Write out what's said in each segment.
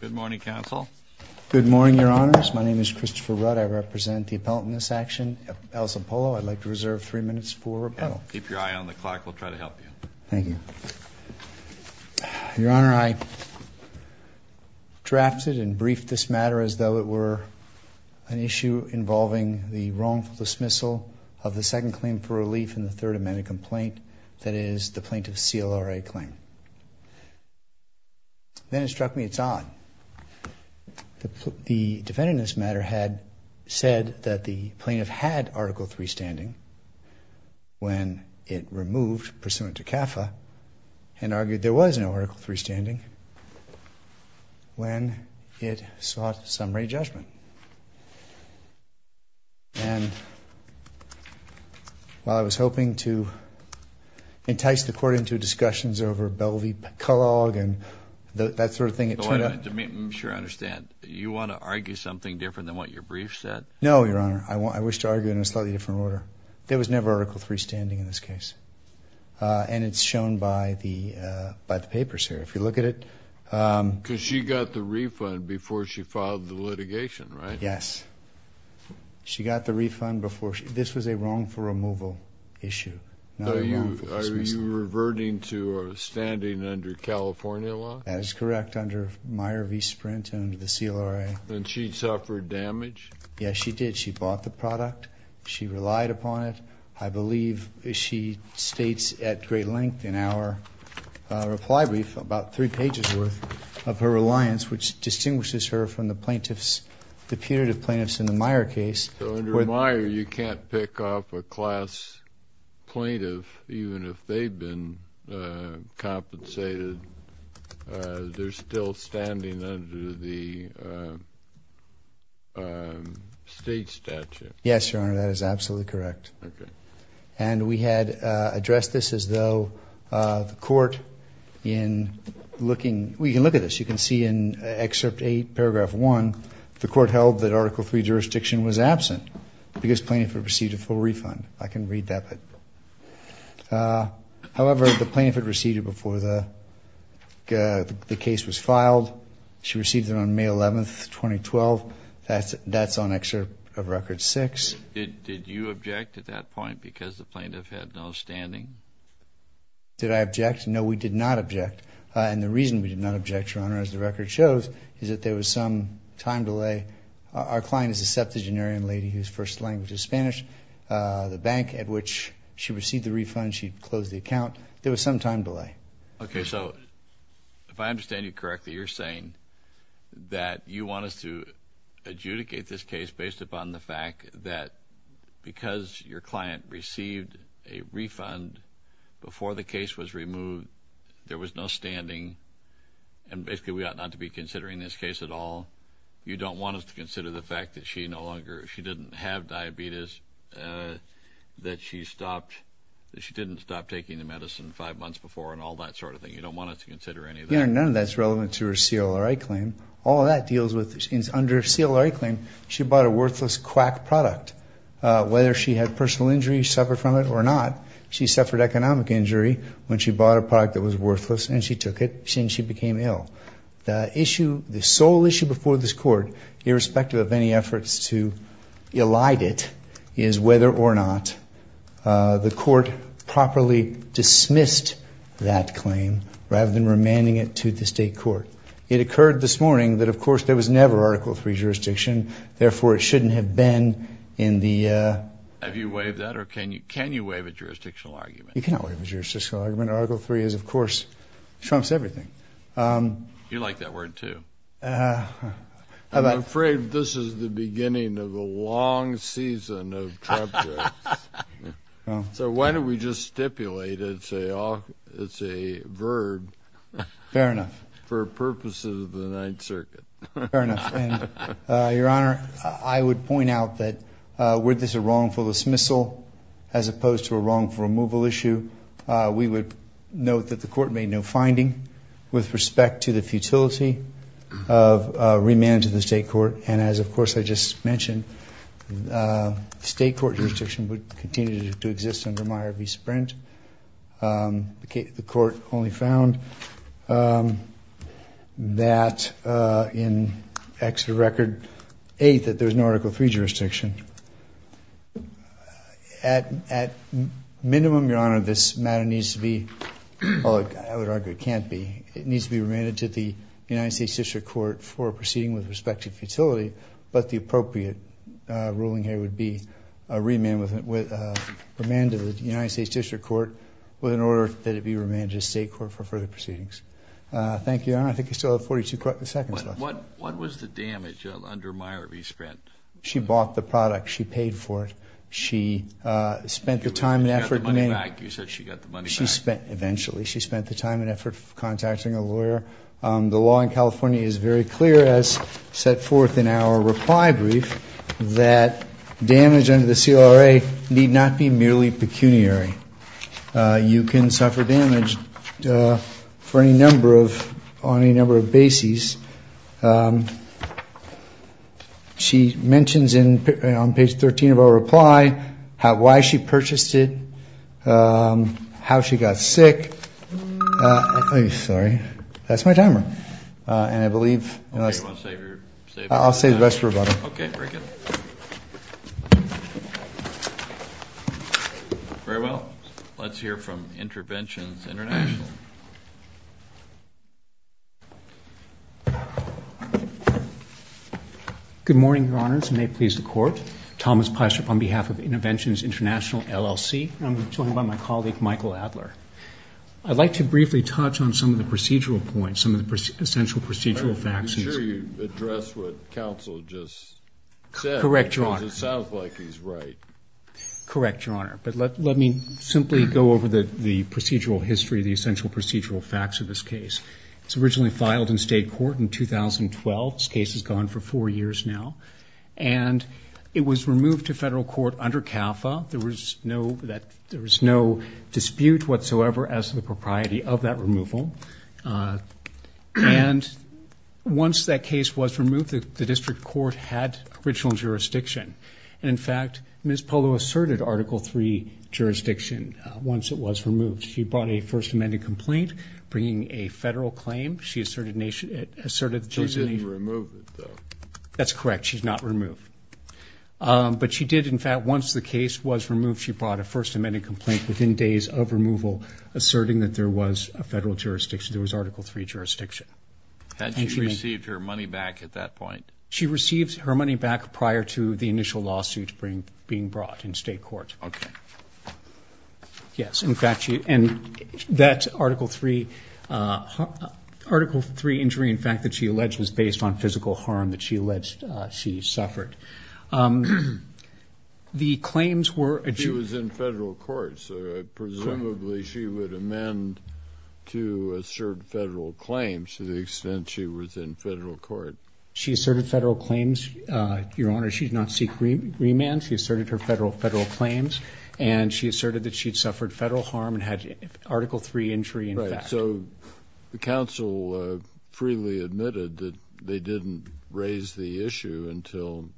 Good morning, Counsel. Good morning, Your Honors. My name is Christopher Rudd. I represent the appellant in this action, Elsa Polo. I'd like to reserve three minutes for rebuttal. Keep your eye on the clock. We'll try to help you. Thank you. Your Honor, I drafted and briefed this matter as though it were an issue involving the wrongful dismissal of the second claim for relief in the Third Amendment complaint, that is, the plaintiff's CLRA claim. Then it struck me it's odd. The defendant in this matter had said that the plaintiff had Article III standing when it removed Pursuant to CAFA and argued there was no Article III standing when it sought summary judgment. And while I was hoping to entice the court into discussions over Bellevue-McCulloch and that sort of thing, it turned out. I'm sure I understand. You want to argue something different than what your brief said? No, Your Honor. I wish to argue in a slightly different order. There was never Article III standing in this case. And it's shown by the papers here. If you look at it. Because she got the refund before she filed the litigation, right? Yes. She got the refund before she. This was a wrongful removal issue, not a wrongful dismissal. Are you reverting to standing under California law? That is correct, under Meyer v. Sprint and the CLRA. And she suffered damage? Yes, she did. She bought the product. She relied upon it. I believe she states at great length in our reply brief about three pages worth of her reliance, which distinguishes her from the punitive plaintiffs in the Meyer case. So under Meyer, you can't pick off a class plaintiff, even if they've been compensated. They're still standing under the state statute. Yes, Your Honor. That is absolutely correct. And we had addressed this as though the court in looking. We can look at this. You can see in excerpt 8, paragraph 1, the court held that Article III jurisdiction was absent because plaintiff had received a full refund. I can read that bit. However, the plaintiff had received it before the case was filed. She received it on May 11, 2012. That's on excerpt of record 6. Did you object at that point because the plaintiff had no standing? Did I object? No, we did not object. And the reason we did not object, Your Honor, as the record shows, is that there was some time delay. Our client is a septuagenarian lady whose first language is Spanish. The bank at which she received the refund, she closed the account. There was some time delay. OK, so if I understand you correctly, you're saying that you want us to adjudicate this case based upon the fact that because your client received a refund before the case was removed, there was no standing. And basically, we ought not to be considering this case at all. You don't want us to consider the fact that she didn't have diabetes, that she didn't stop taking the medicine five months before, and all that sort of thing. You don't want us to consider any of that. Your Honor, none of that's relevant to her CLRI claim. All of that deals with, under her CLRI claim, she bought a worthless quack product. Whether she had personal injury, suffered from it or not, she suffered economic injury when she bought a product that was worthless and she took it. And she became ill. The issue, the sole issue before this court, irrespective of any efforts to elide it, is whether or not the court properly dismissed that claim rather than remanding it to the state court. It occurred this morning that, of course, there was never Article III jurisdiction. Therefore, it shouldn't have been in the- Have you waived that, or can you waive a jurisdictional argument? You cannot waive a jurisdictional argument. Article III is, of course, trumps everything. You like that word, too. I'm afraid this is the beginning of a long season of Trump jokes. So why don't we just stipulate it's a verd- Fair enough. For purposes of the Ninth Circuit. Fair enough. Your Honor, I would point out that, were this a wrongful dismissal as opposed to a wrongful removal issue, we would note that the court made no finding with respect to the futility of remand to the state court. And as, of course, I just mentioned, state court jurisdiction would continue to exist under Meyer v. Sprint. The court only found that in Exeter Record 8 that there was no Article III jurisdiction. At minimum, Your Honor, this matter needs to be, well, I would argue it can't be, it needs to be remanded to the United States District Court for proceeding with respect to futility. But the appropriate ruling here would be a remand to the United States District Court with an order that it be remanded to state court for further proceedings. Thank you, Your Honor. I think you still have 42 seconds left. What was the damage under Meyer v. Sprint? She bought the product. She paid for it. She spent the time and effort demanding it. You said she got the money back. You said she got the money back. Eventually. She spent the time and effort contacting a lawyer. The law in California is very clear, as set forth in our reply brief, that damage under the CRA need not be merely pecuniary. You can suffer damage on any number of bases. She mentions on page 13 of our reply why she purchased it, how she got sick. I'm sorry. That's my timer. And I believe, I'll save the rest for another time. Okay, very good. Very well. Let's hear from Interventions International. Good morning, Your Honors, and may it please the court. Thomas Pyshup on behalf of Interventions International, LLC, and I'm joined by my colleague, Michael Adler. I'd like to briefly touch on some of the procedural points, some of the essential procedural facts. Are you sure you addressed what counsel just said? Correct, Your Honor. Because it sounds like he's right. Correct, Your Honor. But let me simply go over the procedural history, the essential procedural facts of this case. It was originally filed in state court in 2012. This case has gone for four years now. And it was removed to federal court under CAFA. There was no dispute whatsoever as to the propriety of that removal. And once that case was removed, the district court had original jurisdiction. And in fact, Ms. Polo asserted Article III jurisdiction once it was removed. She brought a First Amendment complaint, bringing a federal claim. She asserted that there was a national jurisdiction. She didn't remove it, though. That's correct. She did not remove it. But she did, in fact, once the case was removed, she brought a First Amendment complaint within days of removal, asserting that there was a federal jurisdiction. There was Article III jurisdiction. Had she received her money back at that point? She received her money back prior to the initial lawsuit being brought in state court. OK. Yes. In fact, she and that Article III injury, in fact, that she alleged was based on physical harm that she alleged she suffered. The claims were that she was in federal court. So presumably, she would amend to assert federal claims to the extent she was in federal court. She asserted federal claims, Your Honor. She did not seek remand. She asserted her federal claims. And she asserted that she had suffered federal harm and had Article III injury, in fact. Right. So the counsel freely admitted that they didn't raise the issue until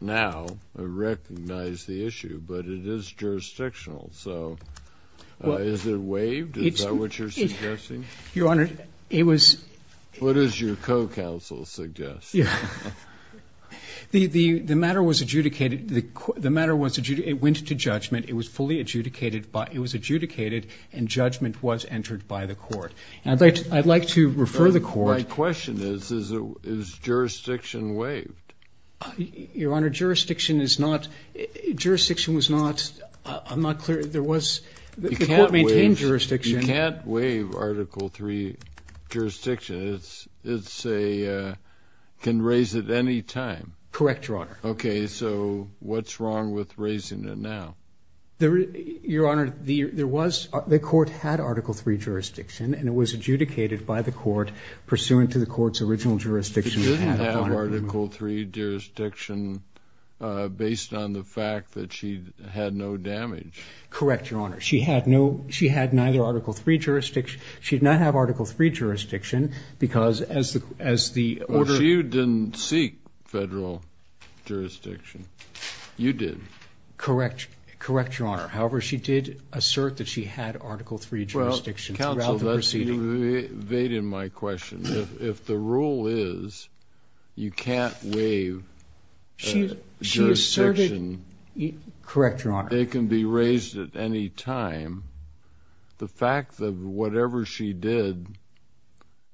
now or recognize the issue. But it is jurisdictional. So is it waived? Is that what you're suggesting? Your Honor, it was. What does your co-counsel suggest? Yeah. The matter was adjudicated. The matter was adjudicated. It went to judgment. It was fully adjudicated. It was adjudicated. And judgment was entered by the court. And I'd like to refer the court. My question is, is jurisdiction waived? Your Honor, jurisdiction is not. Jurisdiction was not. I'm not clear. There was the court maintained jurisdiction. It's a can raise at any time. Correct, Your Honor. OK, so what's wrong with raising it now? Your Honor, the court had Article III jurisdiction. And it was adjudicated by the court pursuant to the court's original jurisdiction. She didn't have Article III jurisdiction based on the fact that she had no damage. Correct, Your Honor. She had neither Article III jurisdiction. She did not have Article III jurisdiction because as the order she didn't seek federal jurisdiction. You did. Correct. Correct, Your Honor. However, she did assert that she had Article III jurisdiction throughout the proceeding. That's evading my question. If the rule is you can't waive jurisdiction, it can be raised at any time. The fact that whatever she did,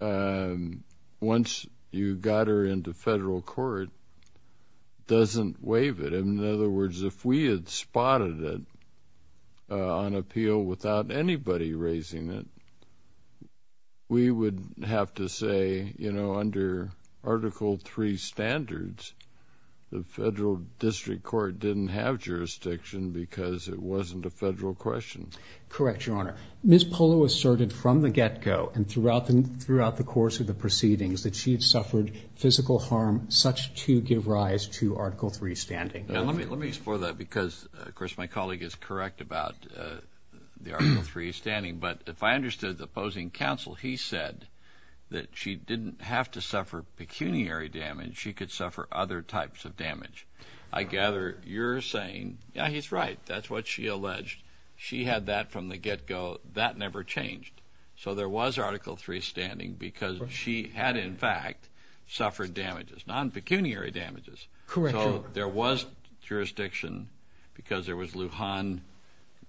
once you got her into federal court, doesn't waive it. In other words, if we had spotted it on appeal without anybody raising it, we would have to say, you know, under Article III standards, the federal district court didn't have jurisdiction because it wasn't a federal question. Correct, Your Honor. Ms. Polo asserted from the get-go and throughout the course of the proceedings that she had suffered physical harm such to give rise to Article III standing. Now, let me explore that because, of course, my colleague is correct about the Article III standing. But if I understood the opposing counsel, he said that she didn't have to suffer pecuniary damage. She could suffer other types of damage. I gather you're saying, yeah, he's right. That's what she alleged. She had that from the get-go. That never changed. So there was Article III standing because she had, in fact, suffered damages, non-pecuniary damages. Correct, Your Honor. So there was jurisdiction because there was Lujan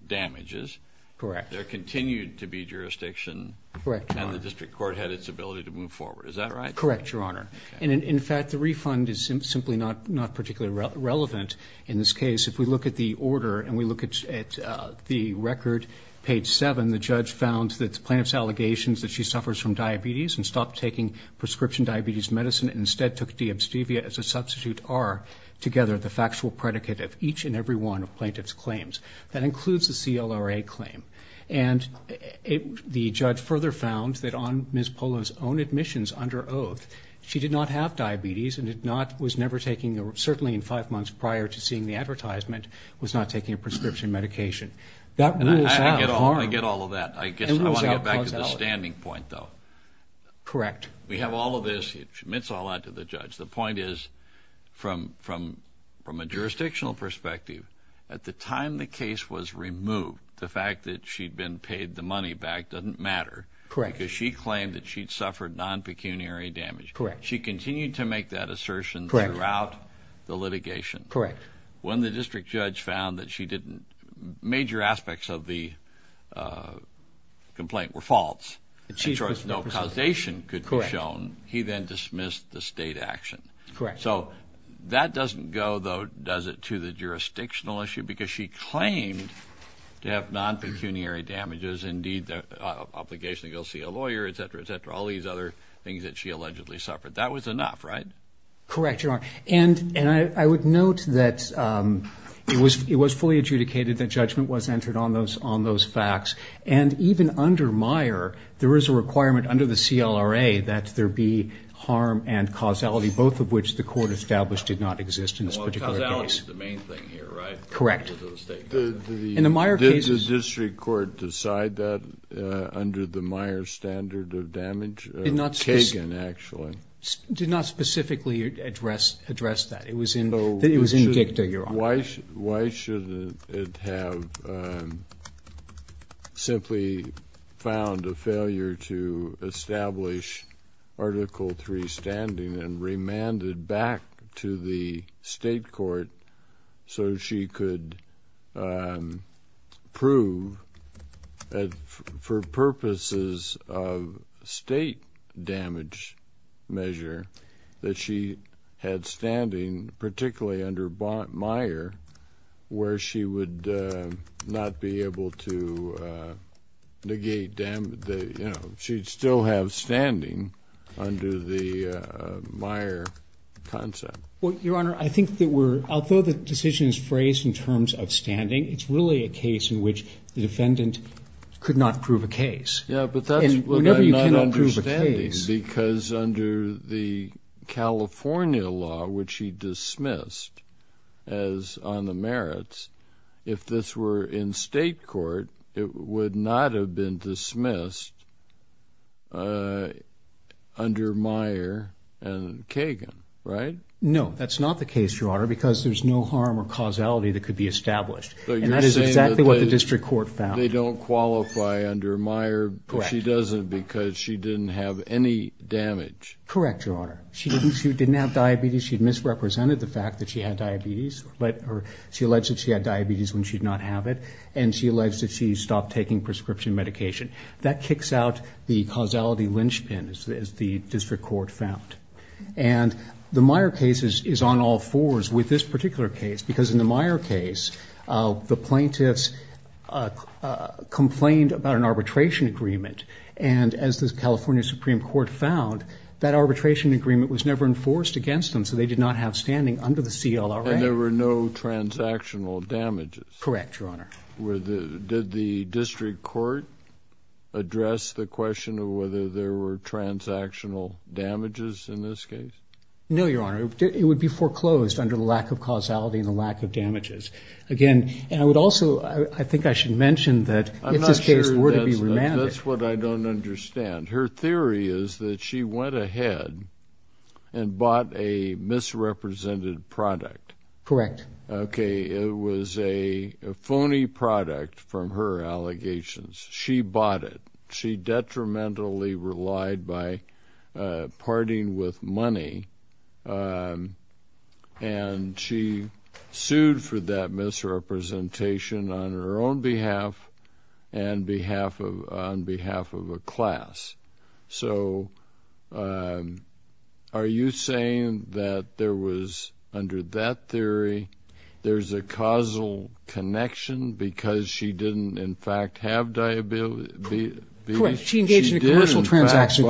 damages. Correct. There continued to be jurisdiction. Correct, Your Honor. And the district court had its ability to move forward. Is that right? Correct, Your Honor. And in fact, the refund is simply not particularly relevant in this case. If we look at the order and we look at the record, page 7, the judge found that the plaintiff's allegations that she suffers from diabetes and stopped taking prescription diabetes medicine and instead took D-abstevia as a substitute R together, the factual predicate of each and every one of plaintiff's claims. That includes the CLRA claim. And the judge further found that on Ms. Polo's own admissions under oath, she did not have diabetes and was never taking, certainly in five months prior to seeing the advertisement, was not taking a prescription medication. That was a harm. I get all of that. I guess I want to get back to the standing point, though. Correct. We have all of this. It admits all that to the judge. The point is, from a jurisdictional perspective, at the time the case was removed, the fact that she'd been paid the money back doesn't matter. Correct. Because she claimed that she'd suffered non-pecuniary damage. Correct. She continued to make that assertion throughout the litigation. Correct. When the district judge found that she didn't, major aspects of the complaint were false, and so no causation could be shown, he then dismissed the state action. Correct. So that doesn't go, though, does it, to the jurisdictional issue? Because she claimed to have non-pecuniary damages, indeed, the obligation to go see a lawyer, et cetera, et cetera, all these other things that she allegedly suffered. That was enough, right? Correct, Your Honor. And I would note that it was fully adjudicated that judgment was entered on those facts. And even under Meyer, there is a requirement under the CLRA that there be harm and causality, both of which the court established did not exist in this particular case. Well, causality is the main thing here, right? Correct. In the state court. In the Meyer case, it's the district court to decide that under the Meyer standard of damage, Kagan, actually. Did not specifically address that. It was in Kigta, Your Honor. Why should it have simply found a failure to establish Article III standing and remanded back to the state court so she could prove, for purposes of state damage measure, that she had standing, particularly under Meyer, where she would not be able to negate damage? She'd still have standing under the Meyer concept. Well, Your Honor, I think that we're, although the decision is phrased in terms of standing, it's really a case in which the defendant could not prove a case. Yeah, but that's what I'm not understanding, because under the California law, which he dismissed as on the merits, if this were in state court, it would not have been dismissed under Meyer and Kagan, right? No, that's not the case, Your Honor, because there's no harm or causality that could be established. And that is exactly what the district court found. They don't qualify under Meyer, but she doesn't because she didn't have any damage. Correct, Your Honor. She didn't have diabetes. She'd misrepresented the fact that she had diabetes, but she alleged that she had diabetes when she did not have it. And she alleged that she stopped taking prescription medication. That kicks out the causality linchpin, as the district court found. And the Meyer case is on all fours with this particular case, because in the Meyer case, the plaintiffs complained about an arbitration agreement. And as the California Supreme Court found, that arbitration agreement was never enforced against them, so they did not have standing under the CLRA. And there were no transactional damages. Correct, Your Honor. Did the district court address the question of whether there were transactional damages in this case? No, Your Honor. It would be foreclosed under the lack of causality and the lack of damages. Again, and I would also, I think I should mention that if this case were to be remanded. That's what I don't understand. Her theory is that she went ahead and bought a misrepresented product. Correct. Okay, it was a phony product from her allegations. She bought it. She detrimentally relied by parting with money. And she sued for that misrepresentation on her own behalf and on behalf of a class. So are you saying that there was, under that theory, there's a causal connection because she didn't, in fact, have diabetes? Correct, she engaged in a commercial transaction.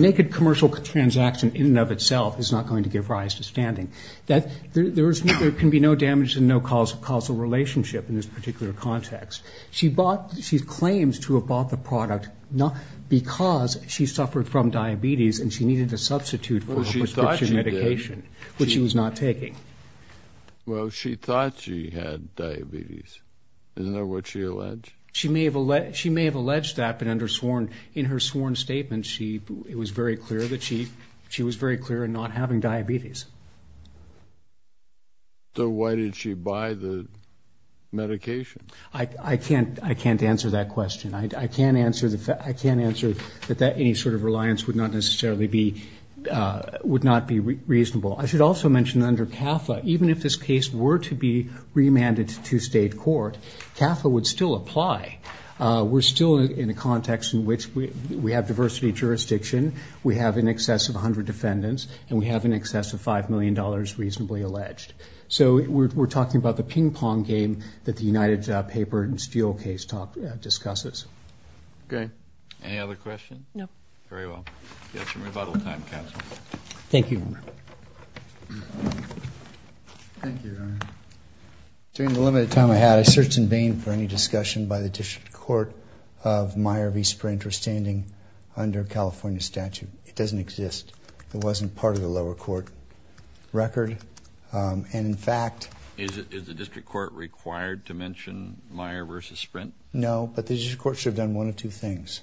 Naked commercial transaction in and of itself is not going to give rise to standing. There can be no damage and no causal relationship in this particular context. She bought, she claims to have bought the product because she suffered from diabetes and she needed a substitute for a prescription medication, which she was not taking. Well, she thought she had diabetes. Isn't that what she alleged? She may have alleged that, but in her sworn statement, it was very clear that she was very clear in not having diabetes. So why did she buy the medication? I can't answer that question. I can't answer that any sort of reliance would not necessarily be, would not be reasonable. I should also mention under CAFA, even if this case were to be remanded to state court, CAFA would still apply. We're still in a context in which we have diversity of jurisdiction. We have in excess of 100 defendants and we have in excess of $5 million reasonably alleged. So we're talking about the ping pong game that the United Paper and Steele case talk discusses. No. Very well. We have some rebuttal time, counsel. Thank you. Thank you, Your Honor. During the limited time I had, I searched in vain for any discussion by the district court of Meyer v. Sprint or standing under California statute. It doesn't exist. It wasn't part of the lower court record. And in fact. Is the district court required to mention Meyer versus Sprint? No, but the district court should have done one of two things.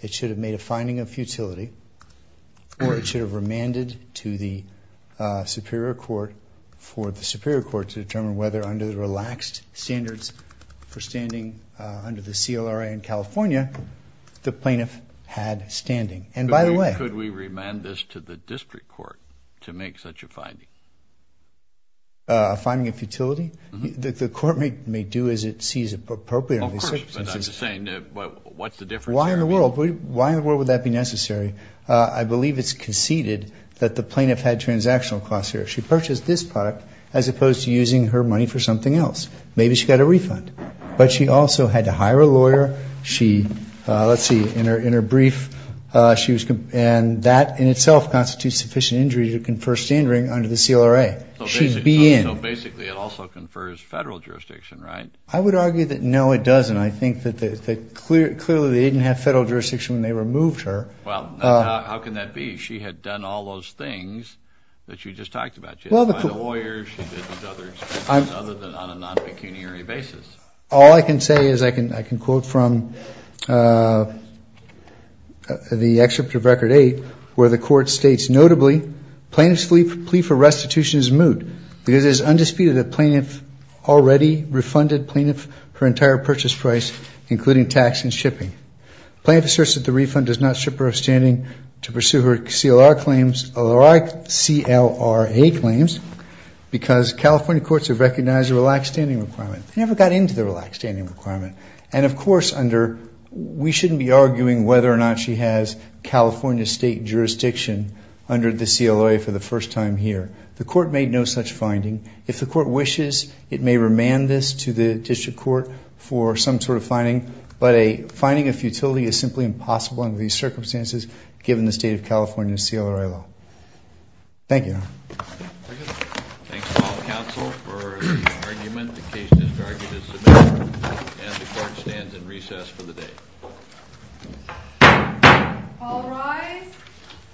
It should have made a finding of futility or it should have remanded to the superior court for the superior court to determine whether under the relaxed standards for standing under the CLRA in California, the plaintiff had standing. And by the way. Could we remand this to the district court to make such a finding? A finding of futility? The court may do as it sees appropriate. Of course. But I'm just saying, what's the difference? Why in the world? Why in the world would that be necessary? I believe it's conceded that the plaintiff had transactional costs here. She purchased this product as opposed to using her money for something else. Maybe she got a refund. But she also had to hire a lawyer. She, let's see, in her brief, she was, and that in itself constitutes sufficient injury to confer standard under the CLRA. She'd be in. So basically it also confers federal jurisdiction, right? I would argue that no, it doesn't. I think that the clear, clearly they didn't have federal jurisdiction when they removed her. Well, how can that be? She had done all those things that you just talked about. She had to find a lawyer. She did these other expenses other than on a non-pecuniary basis. All I can say is I can quote from the excerpt of record eight, where the court states, notably plaintiff's plea for restitution is moot because it is undisputed that plaintiff already refunded plaintiff her entire purchase price, including tax and shipping. Plaintiff asserts that the refund does not strip her of standing to pursue her CLRA claims, because California courts have recognized a relaxed standing requirement. They never got into the relaxed standing requirement. And of course under, we shouldn't be arguing whether or not she has California state jurisdiction under the CLRA for the first time here. The court made no such finding. If the court wishes, it may remand this to the district court for some sort of finding, but a finding of futility is simply impossible under these circumstances, given the state of California's CLRA law. Thank you. Thanks to all the counsel for the argument. The case is argued as submitted, and the court stands in recess for the day. All rise.